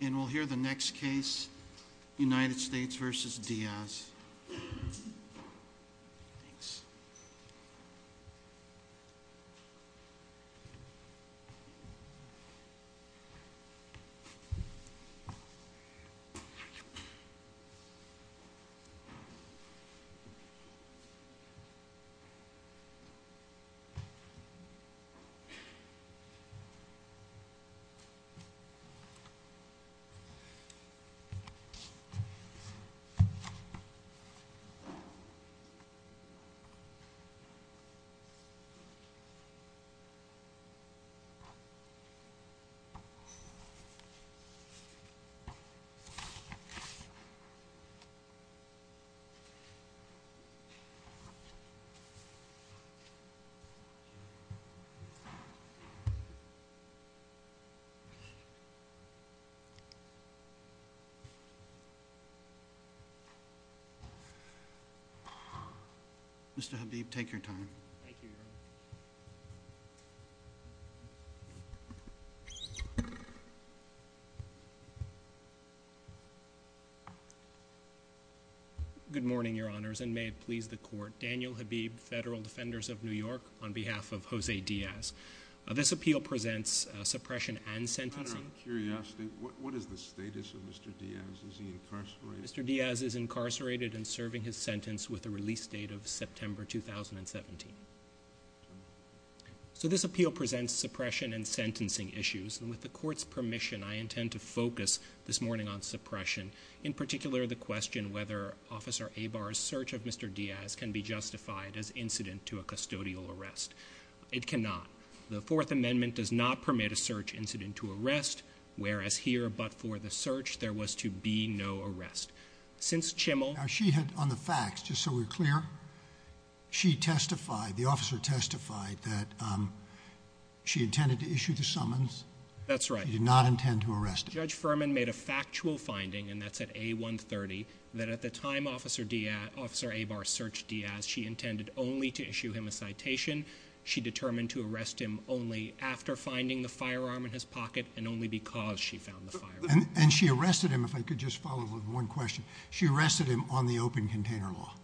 And we'll hear the next case, United States v. Diaz. The next case is United States v. Diaz. Mr. Habib, take your time. Thank you, Your Honor. Good morning, Your Honors, and may it please the Court. Daniel Habib, federal defenders of New York, on behalf of Jose Diaz. This appeal presents suppression and sentencing. Your Honor, I'm curious, what is the status of Mr. Diaz? Is he incarcerated? Mr. Diaz is incarcerated and serving his sentence with a release date of September 2017. So this appeal presents suppression and sentencing issues. And with the Court's permission, I intend to focus this morning on suppression, in particular the question whether Officer Abar's search of Mr. Diaz can be justified as incident to a custodial arrest. It cannot. The Fourth Amendment does not permit a search incident to arrest, whereas here, but for the search, there was to be no arrest. Since Chimmel Now she had, on the facts, just so we're clear, she testified, the officer testified, that she intended to issue the summons. That's right. She did not intend to arrest him. Judge Furman made a factual finding, and that's at A-130, that at the time Officer Abar searched Diaz, she intended only to issue him a citation. She determined to arrest him only after finding the firearm in his pocket, and only because she found the firearm. And she arrested him, if I could just follow up with one question. She arrested him on the open container law?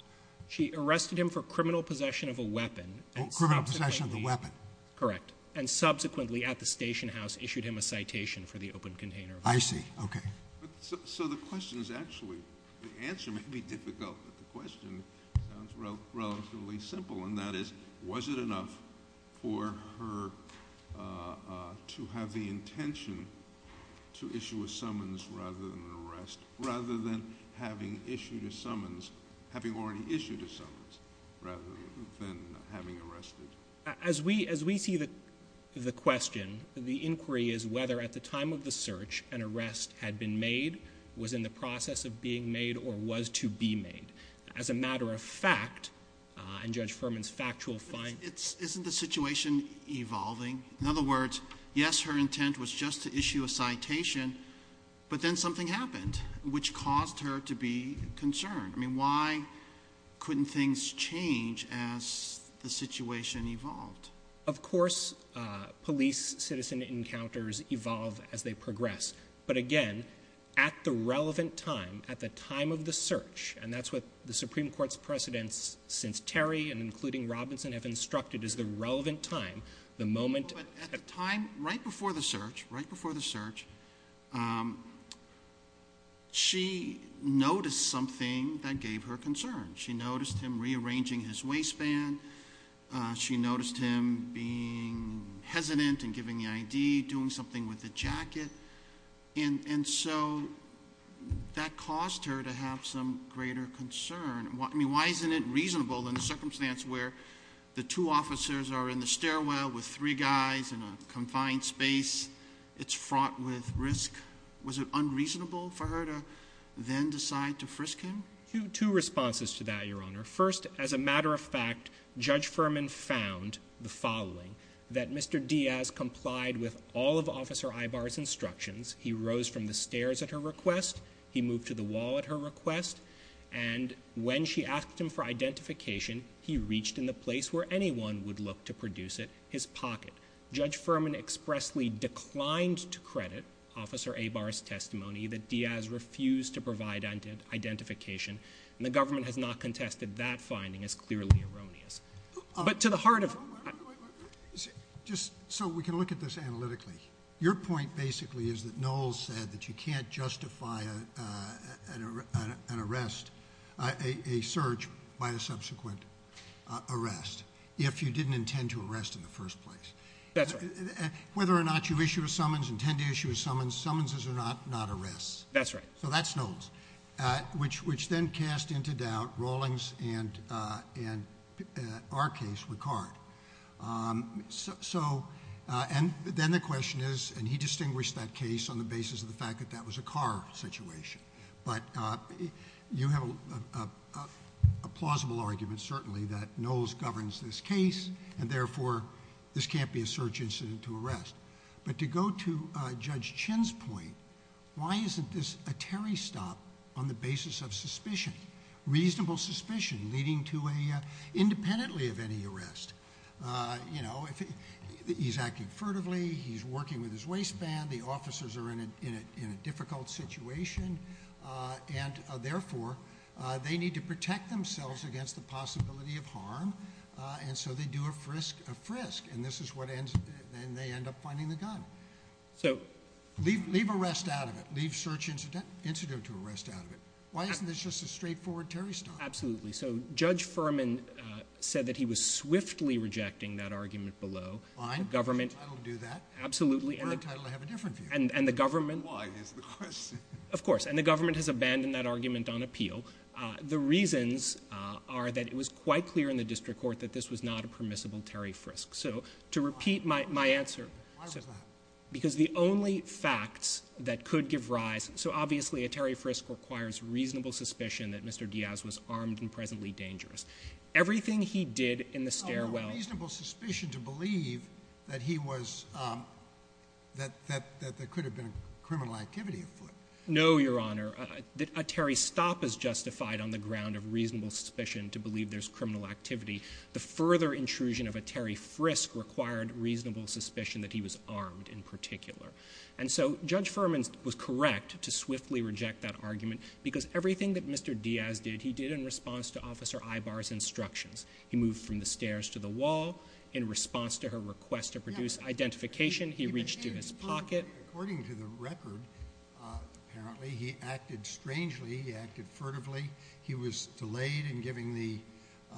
She arrested him for criminal possession of a weapon. Oh, criminal possession of a weapon. Correct. And subsequently, at the station house, issued him a citation for the open container law. I see. Okay. So the question is actually, the answer may be difficult, but the question sounds relatively simple, and that is, was it enough for her to have the intention to issue a summons rather than an arrest, rather than having issued a summons, having already issued a summons, rather than having arrested? As we see the question, the inquiry is whether at the time of the search, an arrest had been made, was in the process of being made, or was to be made. As a matter of fact, and Judge Furman's factual finding. Isn't the situation evolving? In other words, yes, her intent was just to issue a citation, but then something happened, which caused her to be concerned. I mean, why couldn't things change as the situation evolved? Of course, police-citizen encounters evolve as they progress. But again, at the relevant time, at the time of the search, and that's what the Supreme Court's precedents since Terry and including Robinson have instructed, is the relevant time, the moment. No, but at the time, right before the search, right before the search, she noticed something that gave her concern. She noticed him rearranging his waistband. She noticed him being hesitant in giving the ID, doing something with the jacket. And so that caused her to have some greater concern. I mean, why isn't it reasonable in a circumstance where the two officers are in the stairwell with three guys in a confined space? It's fraught with risk. Was it unreasonable for her to then decide to frisk him? Two responses to that, Your Honor. First, as a matter of fact, Judge Furman found the following. That Mr. Diaz complied with all of Officer Ibarra's instructions. He rose from the stairs at her request. He moved to the wall at her request. And when she asked him for identification, he reached in the place where anyone would look to produce it, his pocket. Judge Furman expressly declined to credit Officer Ibarra's testimony that Diaz refused to provide identification, and the government has not contested that finding as clearly erroneous. But to the heart of— Wait, wait, wait. Just so we can look at this analytically. Your point basically is that Knowles said that you can't justify an arrest, a search by a subsequent arrest, if you didn't intend to arrest in the first place. That's right. Whether or not you issue a summons, intend to issue a summons, summonses are not arrests. That's right. So that's Knowles, which then cast into doubt Rawlings and, in our case, Ricard. So—and then the question is—and he distinguished that case on the basis of the fact that that was a car situation. But you have a plausible argument, certainly, that Knowles governs this case, and therefore this can't be a search incident to arrest. But to go to Judge Chin's point, why isn't this a Terry stop on the basis of suspicion, reasonable suspicion, leading to a—independently of any arrest? You know, he's acting furtively. He's working with his waistband. The officers are in a difficult situation. And, therefore, they need to protect themselves against the possibility of harm, and so they do a frisk, a frisk. And this is what ends—then they end up finding the gun. So— Leave arrest out of it. Leave search incident to arrest out of it. Why isn't this just a straightforward Terry stop? Absolutely. So Judge Furman said that he was swiftly rejecting that argument below. Fine. The government— I don't do that. Absolutely. For a title, I have a different view. And the government— Why? That's the question. Of course. And the government has abandoned that argument on appeal. The reasons are that it was quite clear in the district court that this was not a permissible Terry frisk. So to repeat my answer— Why was that? Because the only facts that could give rise— So, obviously, a Terry frisk requires reasonable suspicion that Mr. Diaz was armed and presently dangerous. Everything he did in the stairwell— No reasonable suspicion to believe that he was—that there could have been criminal activity afoot. No, Your Honor. A Terry stop is justified on the ground of reasonable suspicion to believe there's criminal activity. The further intrusion of a Terry frisk required reasonable suspicion that he was armed in particular. And so Judge Furman was correct to swiftly reject that argument because everything that Mr. Diaz did, he did in response to Officer Ibarra's instructions. He moved from the stairs to the wall. In response to her request to produce identification, he reached to his pocket. According to the record, apparently, he acted strangely. He acted furtively. He was delayed in giving the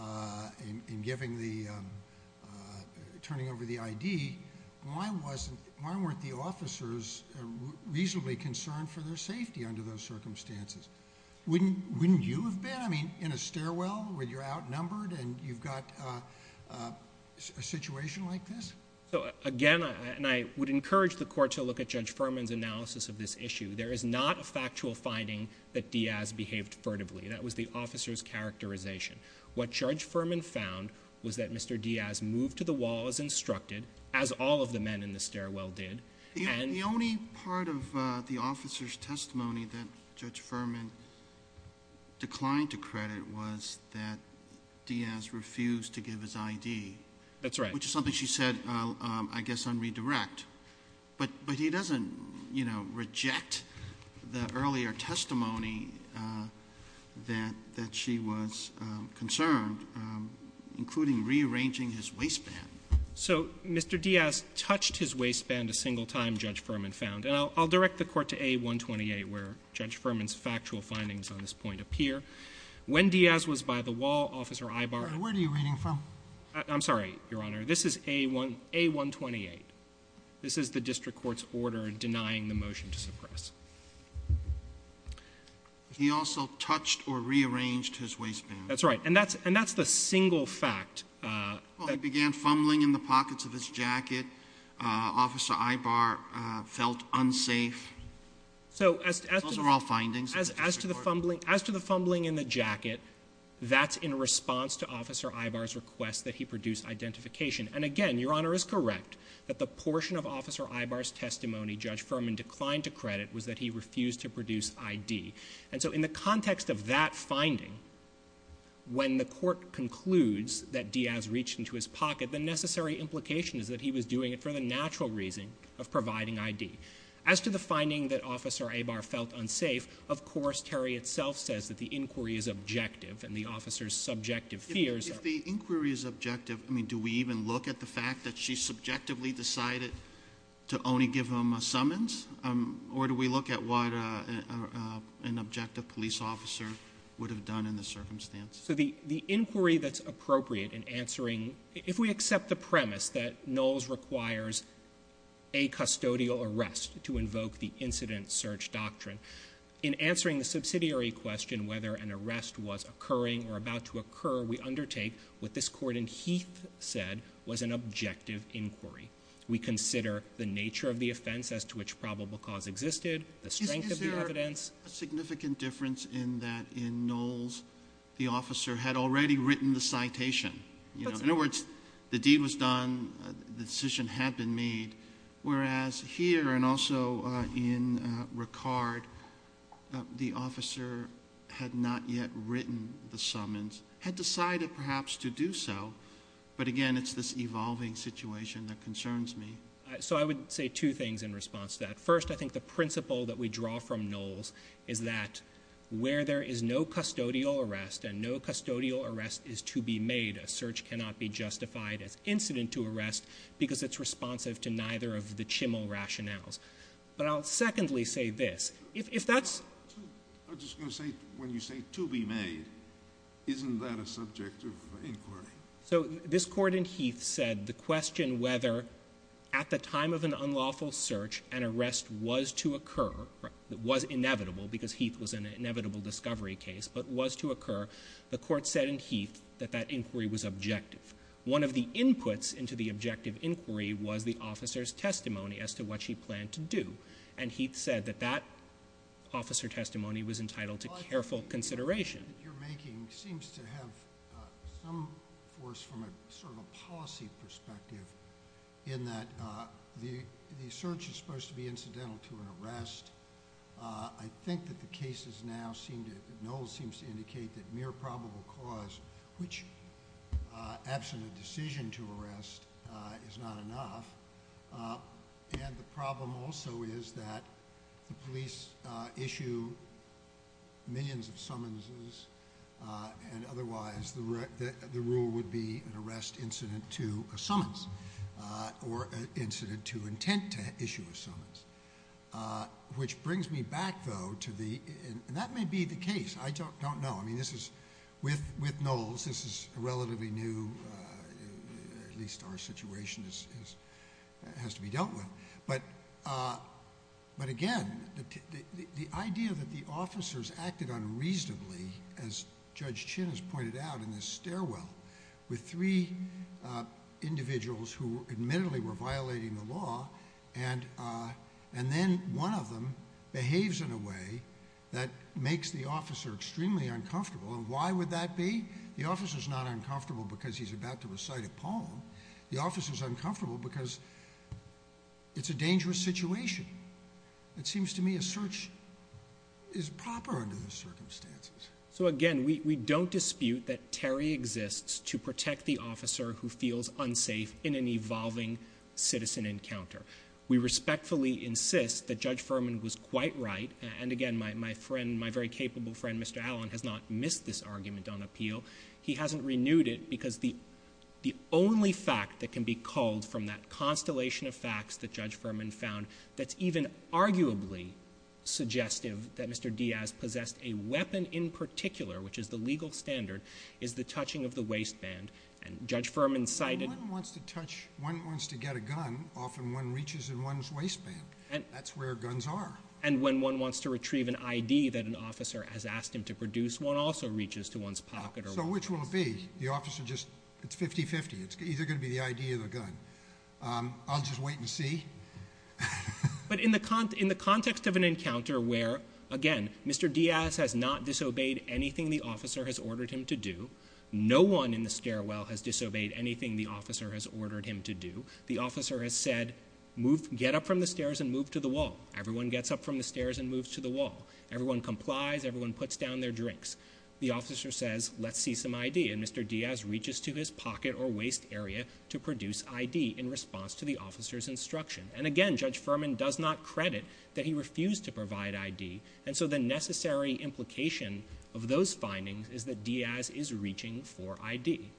— in giving the — turning over the I.D. Why wasn't — why weren't the officers reasonably concerned for their safety under those circumstances? Wouldn't you have been? I mean, in a stairwell where you're outnumbered and you've got a situation like this? So, again, and I would encourage the Court to look at Judge Furman's analysis of this issue. There is not a factual finding that Diaz behaved furtively. That was the officer's characterization. What Judge Furman found was that Mr. Diaz moved to the wall as instructed, as all of the men in the stairwell did. The only part of the officer's testimony that Judge Furman declined to credit was that Diaz refused to give his I.D. That's right. Which is something she said, I guess, on redirect. But he doesn't, you know, reject the earlier testimony that she was concerned, including rearranging his waistband. So Mr. Diaz touched his waistband a single time, Judge Furman found. And I'll direct the Court to A128, where Judge Furman's factual findings on this point appear. When Diaz was by the wall, Officer Ibarra — Where are you reading from? I'm sorry, Your Honor. This is A128. This is the district court's order denying the motion to suppress. He also touched or rearranged his waistband. That's right. And that's the single fact. Well, he began fumbling in the pockets of his jacket. Officer Ibarra felt unsafe. Those are all findings. As to the fumbling in the jacket, that's in response to Officer Ibarra's request that he produce identification. And again, Your Honor is correct that the portion of Officer Ibarra's testimony Judge Furman declined to credit was that he refused to produce I.D. And so in the context of that finding, when the Court concludes that Diaz reached into his pocket, the necessary implication is that he was doing it for the natural reason of providing I.D. As to the finding that Officer Ibarra felt unsafe, of course, Terry itself says that the inquiry is objective and the officer's subjective fears are — If the inquiry is objective, I mean, do we even look at the fact that she subjectively decided to only give him a summons? Or do we look at what an objective police officer would have done in the circumstance? So the inquiry that's appropriate in answering — If we accept the premise that Knowles requires a custodial arrest to invoke the incident search doctrine, in answering the subsidiary question whether an arrest was occurring or about to occur, we undertake what this Court in Heath said was an objective inquiry. We consider the nature of the offense as to which probable cause existed, the strength of the evidence. A significant difference in that in Knowles, the officer had already written the citation. In other words, the deed was done, the decision had been made, whereas here and also in Ricard, the officer had not yet written the summons, had decided perhaps to do so. But again, it's this evolving situation that concerns me. So I would say two things in response to that. First, I think the principle that we draw from Knowles is that where there is no custodial arrest and no custodial arrest is to be made, a search cannot be justified as incident to arrest because it's responsive to neither of the Chimmel rationales. But I'll secondly say this. If that's — I was just going to say, when you say to be made, isn't that a subject of inquiry? So this court in Heath said the question whether at the time of an unlawful search an arrest was to occur, was inevitable because Heath was an inevitable discovery case, but was to occur, the court said in Heath that that inquiry was objective. One of the inputs into the objective inquiry was the officer's testimony as to what she planned to do. And Heath said that that officer testimony was entitled to careful consideration. The argument that you're making seems to have some force from a sort of a policy perspective in that the search is supposed to be incidental to an arrest. I think that the cases now seem to — Knowles seems to indicate that mere probable cause, which absent a decision to arrest, is not enough. And the problem also is that the police issue millions of summonses, and otherwise the rule would be an arrest incident to a summons or an incident to intent to issue a summons. Which brings me back, though, to the — and that may be the case. I don't know. I mean, this is — with Knowles, this is a relatively new — has to be dealt with. But again, the idea that the officers acted unreasonably, as Judge Chin has pointed out in this stairwell, with three individuals who admittedly were violating the law, and then one of them behaves in a way that makes the officer extremely uncomfortable. And why would that be? The officer's uncomfortable because it's a dangerous situation. It seems to me a search is proper under those circumstances. So again, we don't dispute that Terry exists to protect the officer who feels unsafe in an evolving citizen encounter. We respectfully insist that Judge Furman was quite right. And again, my friend, my very capable friend, Mr. Allen, has not missed this argument on appeal. He hasn't renewed it because the only fact that can be culled from that constellation of facts that Judge Furman found that's even arguably suggestive that Mr. Diaz possessed a weapon in particular, which is the legal standard, is the touching of the waistband. And Judge Furman cited — When one wants to touch — when one wants to get a gun, often one reaches in one's waistband. That's where guns are. And when one wants to retrieve an ID that an officer has asked him to produce, one also reaches to one's pocket or waist. So which will it be? The officer just — it's 50-50. It's either going to be the ID or the gun. I'll just wait and see. But in the context of an encounter where, again, Mr. Diaz has not disobeyed anything the officer has ordered him to do. No one in the stairwell has disobeyed anything the officer has ordered him to do. The officer has said, get up from the stairs and move to the wall. Everyone gets up from the stairs and moves to the wall. Everyone complies. Everyone puts down their drinks. The officer says, let's see some ID. And Mr. Diaz reaches to his pocket or waist area to produce ID in response to the officer's instruction. And, again, Judge Furman does not credit that he refused to provide ID. And so the necessary implication of those findings is that Diaz is reaching for ID.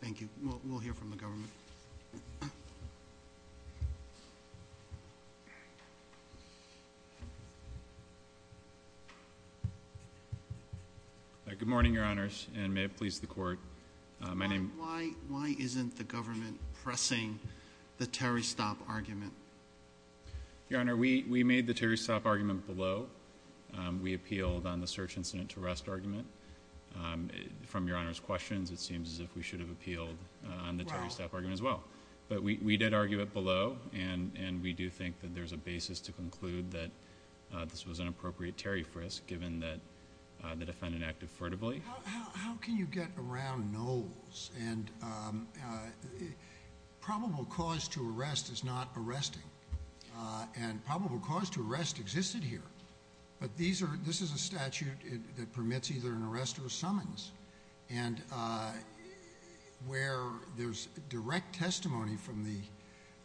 Thank you. We'll hear from the government. Good morning, Your Honors, and may it please the Court. My name — Why isn't the government pressing the Terry Stopp argument? Your Honor, we made the Terry Stopp argument below. We appealed on the search incident to arrest argument. From Your Honor's questions, it seems as if we should have appealed on the Terry Stopp argument as well. But we did argue it below, and we do think that there's a basis to conclude that this was an appropriate Terry frisk, given that the defendant acted furtively. How can you get around Knowles? And probable cause to arrest is not arresting. And probable cause to arrest existed here. But this is a statute that permits either an arrest or a summons. And where there's direct testimony from the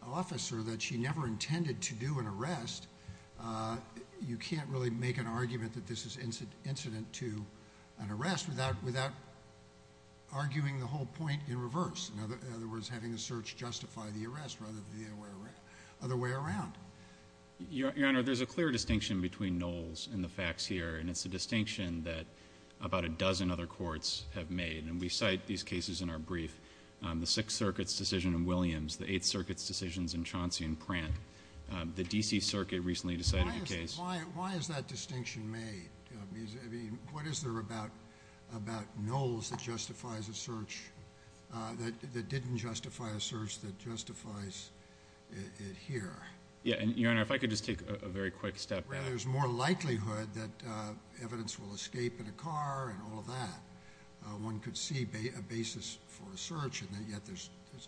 officer that she never intended to do an arrest, you can't really make an argument that this is incident to an arrest without arguing the whole point in reverse. In other words, having a search justify the arrest rather than the other way around. Your Honor, there's a clear distinction between Knowles and the facts here, and it's a distinction that about a dozen other courts have made. And we cite these cases in our brief. The Sixth Circuit's decision in Williams, the Eighth Circuit's decisions in Chauncey and Pratt, the D.C. Circuit recently decided a case. Why is that distinction made? What is there about Knowles that didn't justify a search that justifies it here? Your Honor, if I could just take a very quick step back. There's more likelihood that evidence will escape in a car and all of that. One could see a basis for a search, and yet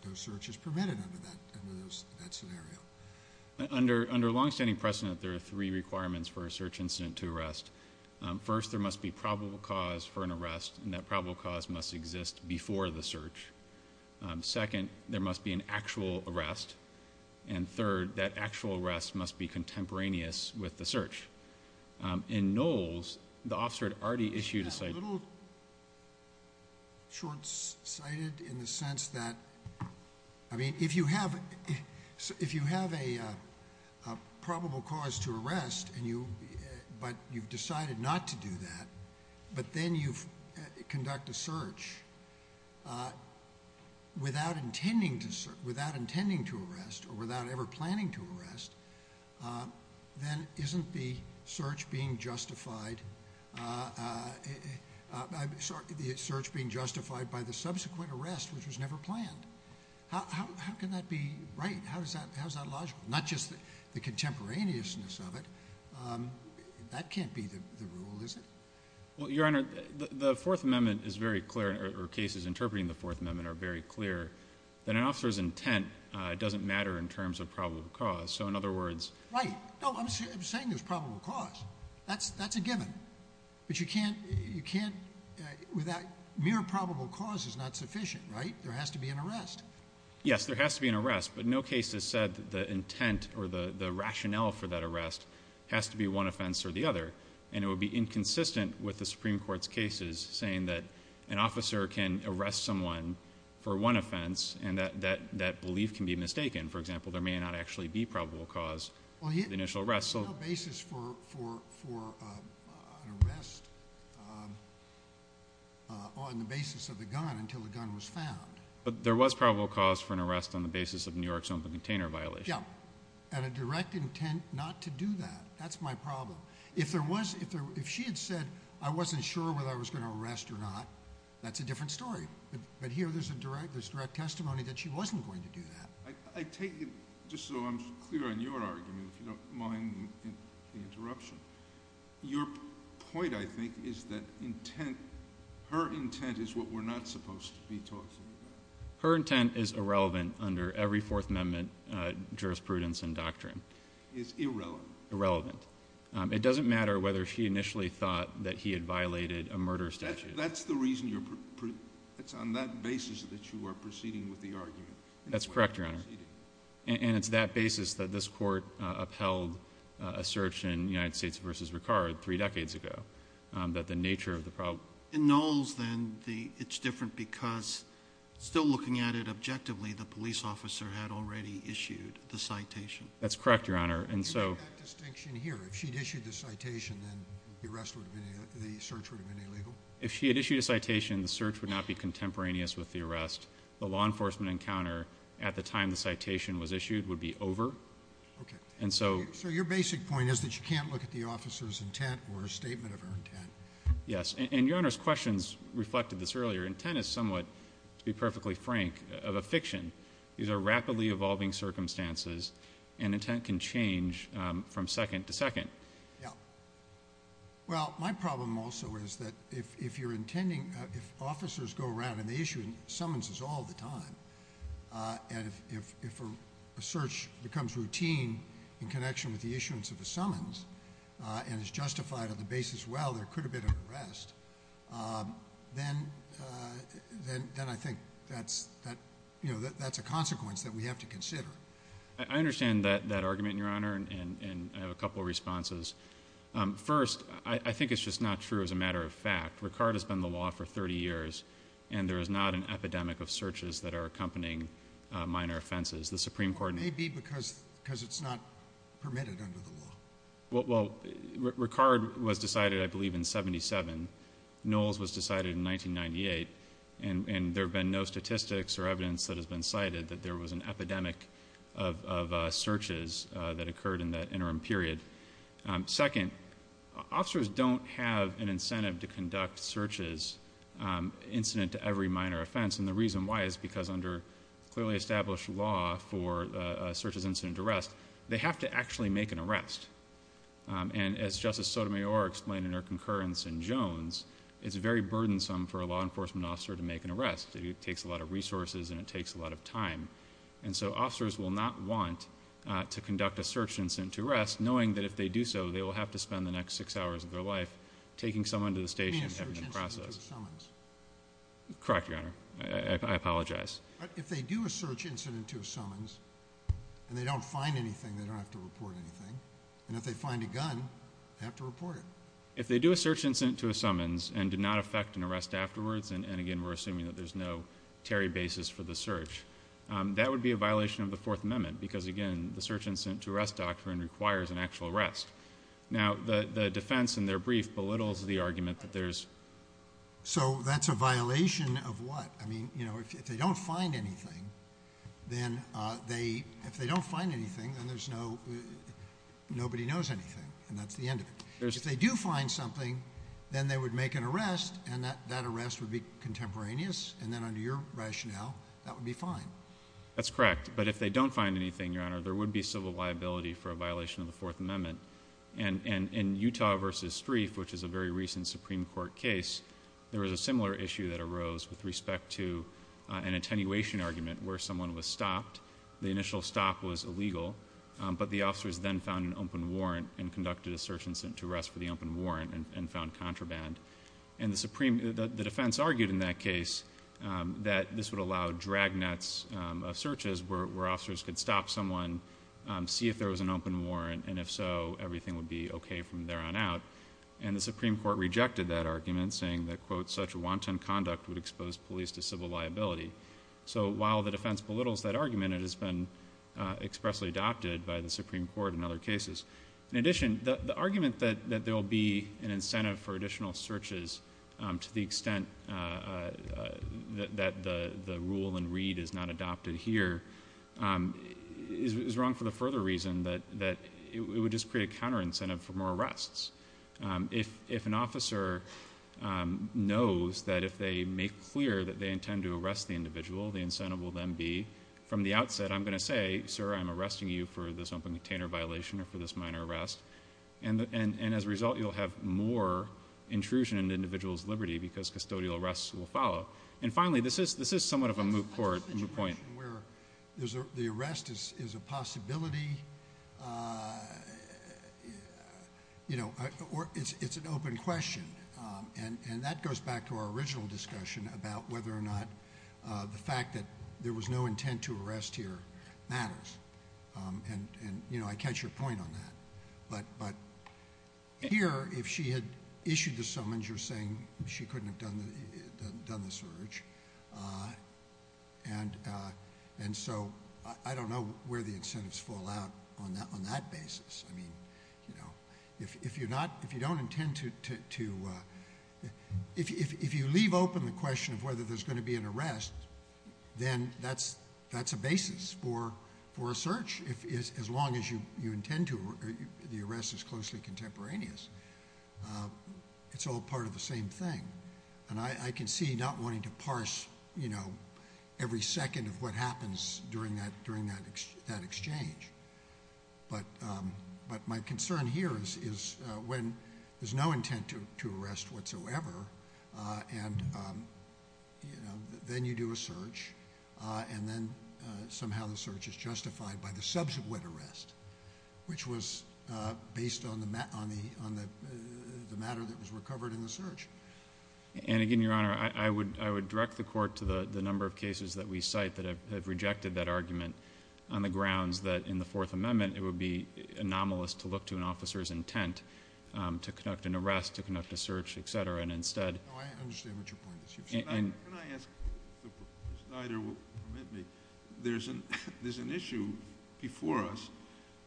no search is permitted under that scenario. Under longstanding precedent, there are three requirements for a search incident to arrest. First, there must be probable cause for an arrest, and that probable cause must exist before the search. Second, there must be an actual arrest. And third, that actual arrest must be contemporaneous with the search. In Knowles, the officer had already issued a citation. It's a little short-sighted in the sense that, I mean, if you have a probable cause to arrest, but you've decided not to do that, but then you conduct a search without intending to arrest or without ever planning to arrest, then isn't the search being justified by the subsequent arrest, which was never planned? How can that be right? How is that logical? Not just the contemporaneousness of it. That can't be the rule, is it? Well, Your Honor, the Fourth Amendment is very clear, or cases interpreting the Fourth Amendment are very clear, that an officer's intent doesn't matter in terms of probable cause. So, in other words — Right. No, I'm saying there's probable cause. That's a given. But you can't — mere probable cause is not sufficient, right? There has to be an arrest. Yes, there has to be an arrest. But no case has said that the intent or the rationale for that arrest has to be one offense or the other. And it would be inconsistent with the Supreme Court's cases saying that an officer can arrest someone for one offense and that that belief can be mistaken. For example, there may not actually be probable cause of the initial arrest. Well, there's no basis for an arrest on the basis of the gun until the gun was found. But there was probable cause for an arrest on the basis of New York's open container violation. Yeah, and a direct intent not to do that. That's my problem. If she had said, I wasn't sure whether I was going to arrest or not, that's a different story. But here there's direct testimony that she wasn't going to do that. I take it, just so I'm clear on your argument, if you don't mind the interruption, your point, I think, is that her intent is what we're not supposed to be talking about. Her intent is irrelevant under every Fourth Amendment jurisprudence and doctrine. It's irrelevant. Irrelevant. It doesn't matter whether she initially thought that he had violated a murder statute. That's the reason you're—it's on that basis that you are proceeding with the argument. That's correct, Your Honor. And it's that basis that this Court upheld a search in United States v. Ricard three decades ago, that the nature of the problem— In Knowles, then, it's different because still looking at it objectively, the police officer had already issued the citation. That's correct, Your Honor. Can you make that distinction here? If she'd issued the citation, then the search would have been illegal? If she had issued a citation, the search would not be contemporaneous with the arrest. The law enforcement encounter at the time the citation was issued would be over. Okay. And so— So your basic point is that you can't look at the officer's intent or a statement of her intent. Yes. And Your Honor's questions reflected this earlier. Intent is somewhat, to be perfectly frank, of a fiction. These are rapidly evolving circumstances, and intent can change from second to second. Yeah. Well, my problem also is that if you're intending— if officers go around and they issue summonses all the time, and if a search becomes routine in connection with the issuance of a summons and is justified on the basis, well, there could have been an arrest, then I think that's a consequence that we have to consider. I understand that argument, Your Honor, and I have a couple of responses. First, I think it's just not true as a matter of fact. Ricard has been in the law for 30 years, and there is not an epidemic of searches that are accompanying minor offenses. The Supreme Court— Or maybe because it's not permitted under the law. Well, Ricard was decided, I believe, in 77. Knowles was decided in 1998, and there have been no statistics or evidence that has been cited that there was an epidemic of searches that occurred in that interim period. Second, officers don't have an incentive to conduct searches incident to every minor offense, and the reason why is because under clearly established law for searches incident to arrest, they have to actually make an arrest. And as Justice Sotomayor explained in her concurrence in Jones, it's very burdensome for a law enforcement officer to make an arrest. It takes a lot of resources, and it takes a lot of time. And so officers will not want to conduct a search incident to arrest knowing that if they do so, they will have to spend the next six hours of their life taking someone to the station and having them processed. You mean a search incident to a summons? Correct, Your Honor. I apologize. But if they do a search incident to a summons and they don't find anything, they don't have to report anything. And if they find a gun, they have to report it. If they do a search incident to a summons and do not affect an arrest afterwards, and again, we're assuming that there's no tarry basis for the search, that would be a violation of the Fourth Amendment because, again, the search incident to arrest doctrine requires an actual arrest. Now, the defense in their brief belittles the argument that there's... So that's a violation of what? I mean, you know, if they don't find anything, then they... If they don't find anything, then there's no... Nobody knows anything, and that's the end of it. If they do find something, then they would make an arrest, and that arrest would be contemporaneous, and then under your rationale, that would be fine. That's correct. But if they don't find anything, Your Honor, there would be civil liability for a violation of the Fourth Amendment. And in Utah v. Streiff, which is a very recent Supreme Court case, there was a similar issue that arose with respect to an attenuation argument where someone was stopped. The initial stop was illegal, but the officers then found an open warrant and conducted a search incident to arrest for the open warrant and found contraband. And the defense argued in that case that this would allow drag nets of searches where officers could stop someone, see if there was an open warrant, and if so, everything would be okay from there on out. And the Supreme Court rejected that argument, saying that, quote, such wanton conduct would expose police to civil liability. So while the defense belittles that argument, it has been expressly adopted by the Supreme Court in other cases. In addition, the argument that there will be an incentive for additional searches to the extent that the rule in Reed is not adopted here is wrong for the further reason that it would just create a counter-incentive for more arrests. If an officer knows that if they make clear that they intend to arrest the individual, the incentive will then be, from the outset, I'm going to say, Sir, I'm arresting you for this open container violation or for this minor arrest. And as a result, you'll have more intrusion into individuals' liberty because custodial arrests will follow. And finally, this is somewhat of a moot point. The arrest is a possibility. It's an open question. And that goes back to our original discussion about whether or not the fact that there was no intent to arrest here matters. And, you know, I catch your point on that. But here, if she had issued the summons, you're saying she couldn't have done the search. And so I don't know where the incentives fall out on that basis. I mean, you know, if you don't intend to... If you leave open the question of whether there's going to be an arrest, then that's a basis for a search, as long as you intend to, or the arrest is closely contemporaneous. It's all part of the same thing. And I can see not wanting to parse, you know, every second of what happens during that exchange. But my concern here is when there's no intent to arrest whatsoever, and, you know, then you do a search, and then somehow the search is justified by the subsequent arrest, which was based on the matter that was recovered in the search. And, again, Your Honor, I would direct the court to the number of cases that we cite that have rejected that argument on the grounds that in the Fourth Amendment it would be anomalous to look to an officer's intent to conduct an arrest, to conduct a search, et cetera, and instead... No, I understand what your point is. Can I ask, if the Snyder will permit me, there's an issue before us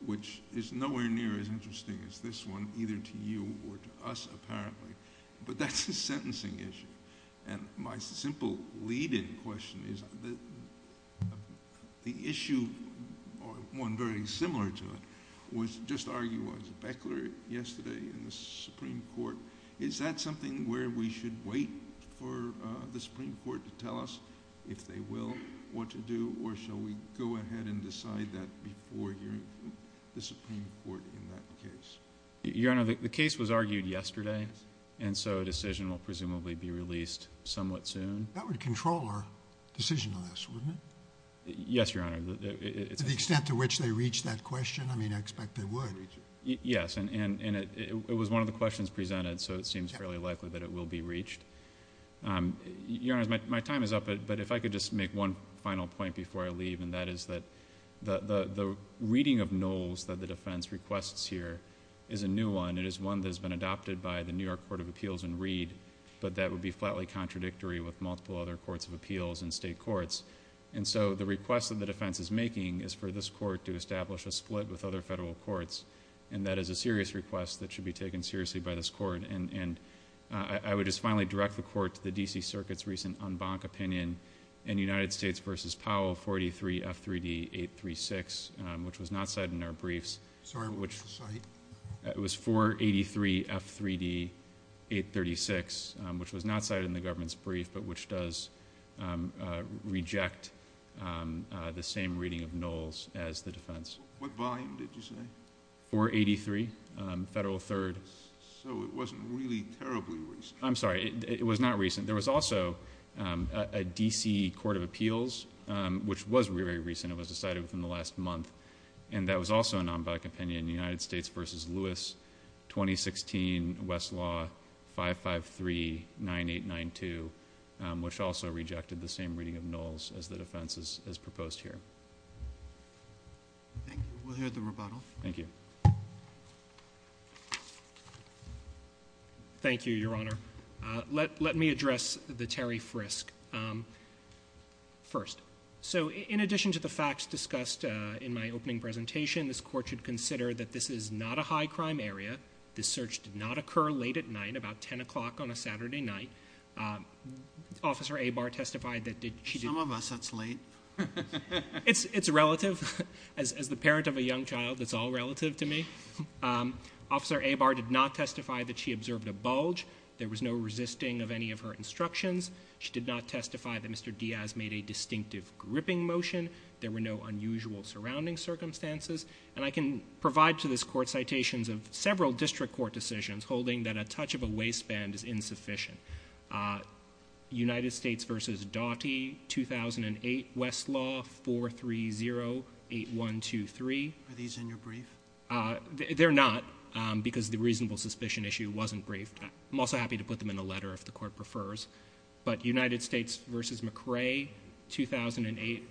which is nowhere near as interesting as this one, either to you or to us, apparently, but that's a sentencing issue. And my simple lead-in question is the issue, or one very similar to it, was just arguing with Beckler yesterday in the Supreme Court. Is that something where we should wait for the Supreme Court to tell us, if they will, what to do, or shall we go ahead and decide that before hearing from the Supreme Court in that case? Your Honor, the case was argued yesterday, and so a decision will presumably be released somewhat soon. That would control our decision on this, wouldn't it? Yes, Your Honor. To the extent to which they reach that question? I mean, I expect they would. Yes, and it was one of the questions presented, so it seems fairly likely that it will be reached. Your Honor, my time is up, but if I could just make one final point before I leave, and that is that the reading of Knowles that the defense requests here is a new one. It is one that has been adopted by the New York Court of Appeals in Reed, but that would be flatly contradictory with multiple other courts of appeals and state courts. And so the request that the defense is making is for this court to establish a split with other federal courts, and that is a serious request that should be taken seriously by this court. And I would just finally direct the court to the D.C. Circuit's recent en banc opinion in United States v. Powell 43F3D836, which was not cited in our briefs. Sorry, what was the site? It was 483F3D836, which was not cited in the government's brief, but which does reject the same reading of Knowles as the defense. What volume did you say? 483, federal third. So it wasn't really terribly recent. I'm sorry, it was not recent. There was also a D.C. Court of Appeals, which was very, very recent. It was decided within the last month, and that was also an en banc opinion, United States v. Lewis 2016, Westlaw 5539892, which also rejected the same reading of Knowles as the defense as proposed here. Thank you. We'll hear the rebuttal. Thank you. Thank you, Your Honor. Let me address the Terry Frisk first. So in addition to the facts discussed in my opening presentation, this court should consider that this is not a high-crime area. This search did not occur late at night, about 10 o'clock on a Saturday night. Officer Abar testified that she did... Some of us, that's late. It's relative. As the parent of a young child, it's all relative to me. Officer Abar did not testify that she observed a bulge. There was no resisting of any of her instructions. She did not testify that Mr. Diaz made a distinctive gripping motion. There were no unusual surrounding circumstances. And I can provide to this court citations of several district court decisions holding that a touch of a waistband is insufficient. United States v. Doughty 2008, Westlaw 4308123. Are these in your brief? They're not, because the reasonable suspicion issue wasn't briefed. I'm also happy to put them in a letter if the court prefers. But United States v. McCrae 2008...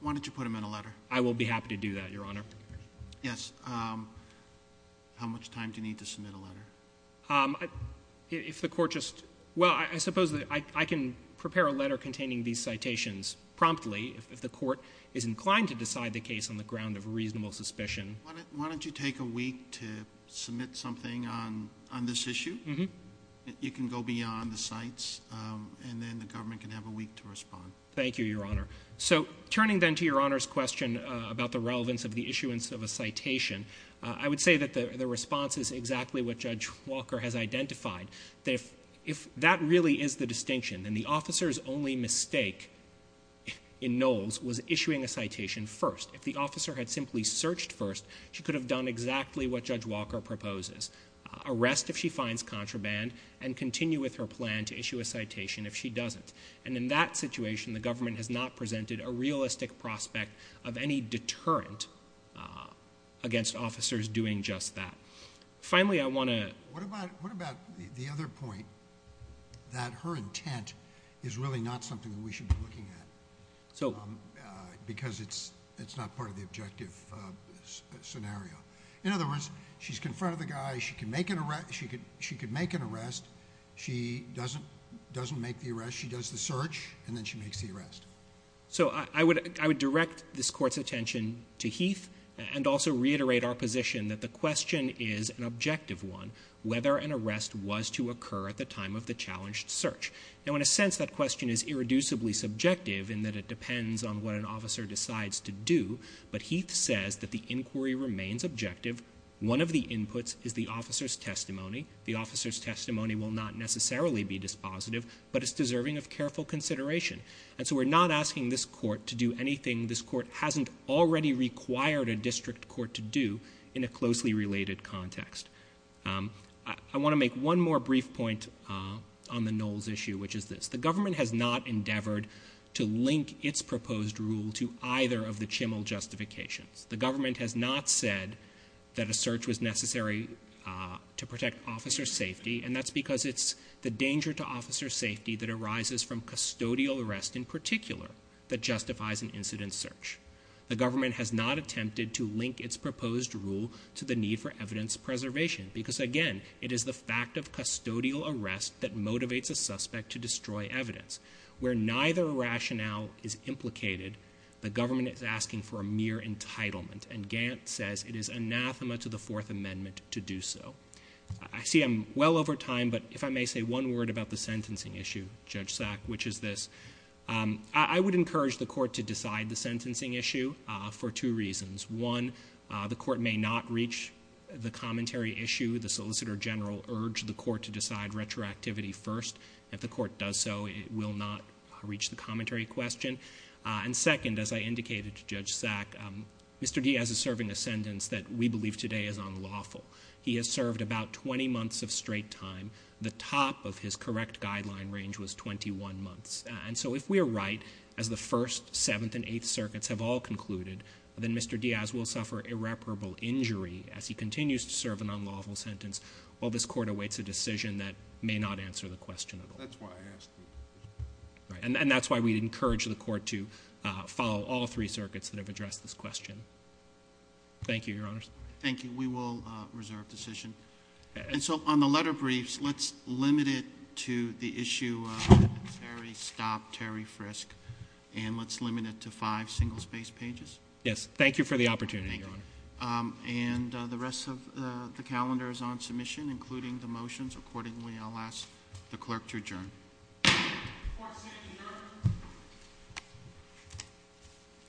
Why don't you put them in a letter? I will be happy to do that, Your Honor. Yes. How much time do you need to submit a letter? If the court just... Well, I suppose I can prepare a letter containing these citations promptly if the court is inclined to decide the case on the ground of reasonable suspicion. Why don't you take a week to submit something on this issue? You can go beyond the cites, and then the government can have a week to respond. Thank you, Your Honor. So turning then to Your Honor's question about the relevance of the issuance of a citation, I would say that the response is exactly what Judge Walker has identified, that if that really is the distinction, then the officer's only mistake in Knowles was issuing a citation first. If the officer had simply searched first, she could have done exactly what Judge Walker proposes. Arrest if she finds contraband, and continue with her plan to issue a citation if she doesn't. And in that situation, the government has not presented a realistic prospect of any deterrent against officers doing just that. Finally, I want to... What about the other point, that her intent is really not something that we should be looking at? Because it's not part of the objective scenario. In other words, she's confronted the guy, she could make an arrest, she doesn't make the arrest, she does the search, and then she makes the arrest. So I would direct this Court's attention to Heath, and also reiterate our position that the question is an objective one, whether an arrest was to occur at the time of the challenged search. Now, in a sense, that question is irreducibly subjective in that it depends on what an officer decides to do, but Heath says that the inquiry remains objective. One of the inputs is the officer's testimony. The officer's testimony will not necessarily be dispositive, but it's deserving of careful consideration. And so we're not asking this Court to do anything this Court hasn't already required a district court to do in a closely related context. I want to make one more brief point on the Knowles issue, which is this. The government has not endeavored to link its proposed rule to either of the Chimmel justifications. The government has not said that a search was necessary to protect officer safety, and that's because it's the danger to officer safety that arises from custodial arrest in particular that justifies an incident search. The government has not attempted to link its proposed rule to the need for evidence preservation, because, again, it is the fact of custodial arrest that motivates a suspect to destroy evidence. Where neither rationale is implicated, the government is asking for a mere entitlement, and Gant says it is anathema to the Fourth Amendment to do so. I see I'm well over time, but if I may say one word about the sentencing issue, Judge Sack, which is this. I would encourage the Court to decide the sentencing issue for two reasons. One, the Court may not reach the commentary issue. The Solicitor General urged the Court to decide retroactivity first. If the Court does so, it will not reach the commentary question. And second, as I indicated to Judge Sack, Mr. Diaz is serving a sentence that we believe today is unlawful. He has served about 20 months of straight time. The top of his correct guideline range was 21 months. And so if we are right, as the First, Seventh, and Eighth Circuits have all concluded, then Mr. Diaz will suffer irreparable injury as he continues to serve an unlawful sentence while this Court awaits a decision that may not answer the question at all. That's why I asked. Right, and that's why we'd encourage the Court to follow all three circuits that have addressed this question. Thank you, Your Honors. Thank you. We will reserve decision. And so on the letter briefs, let's limit it to the issue of Terry, Stop, Terry, Frisk, and let's limit it to five single-space pages. Yes, thank you for the opportunity, Your Honor. Thank you. And the rest of the calendar is on submission, including the motions accordingly. I'll ask the clerk to adjourn. Court is adjourned.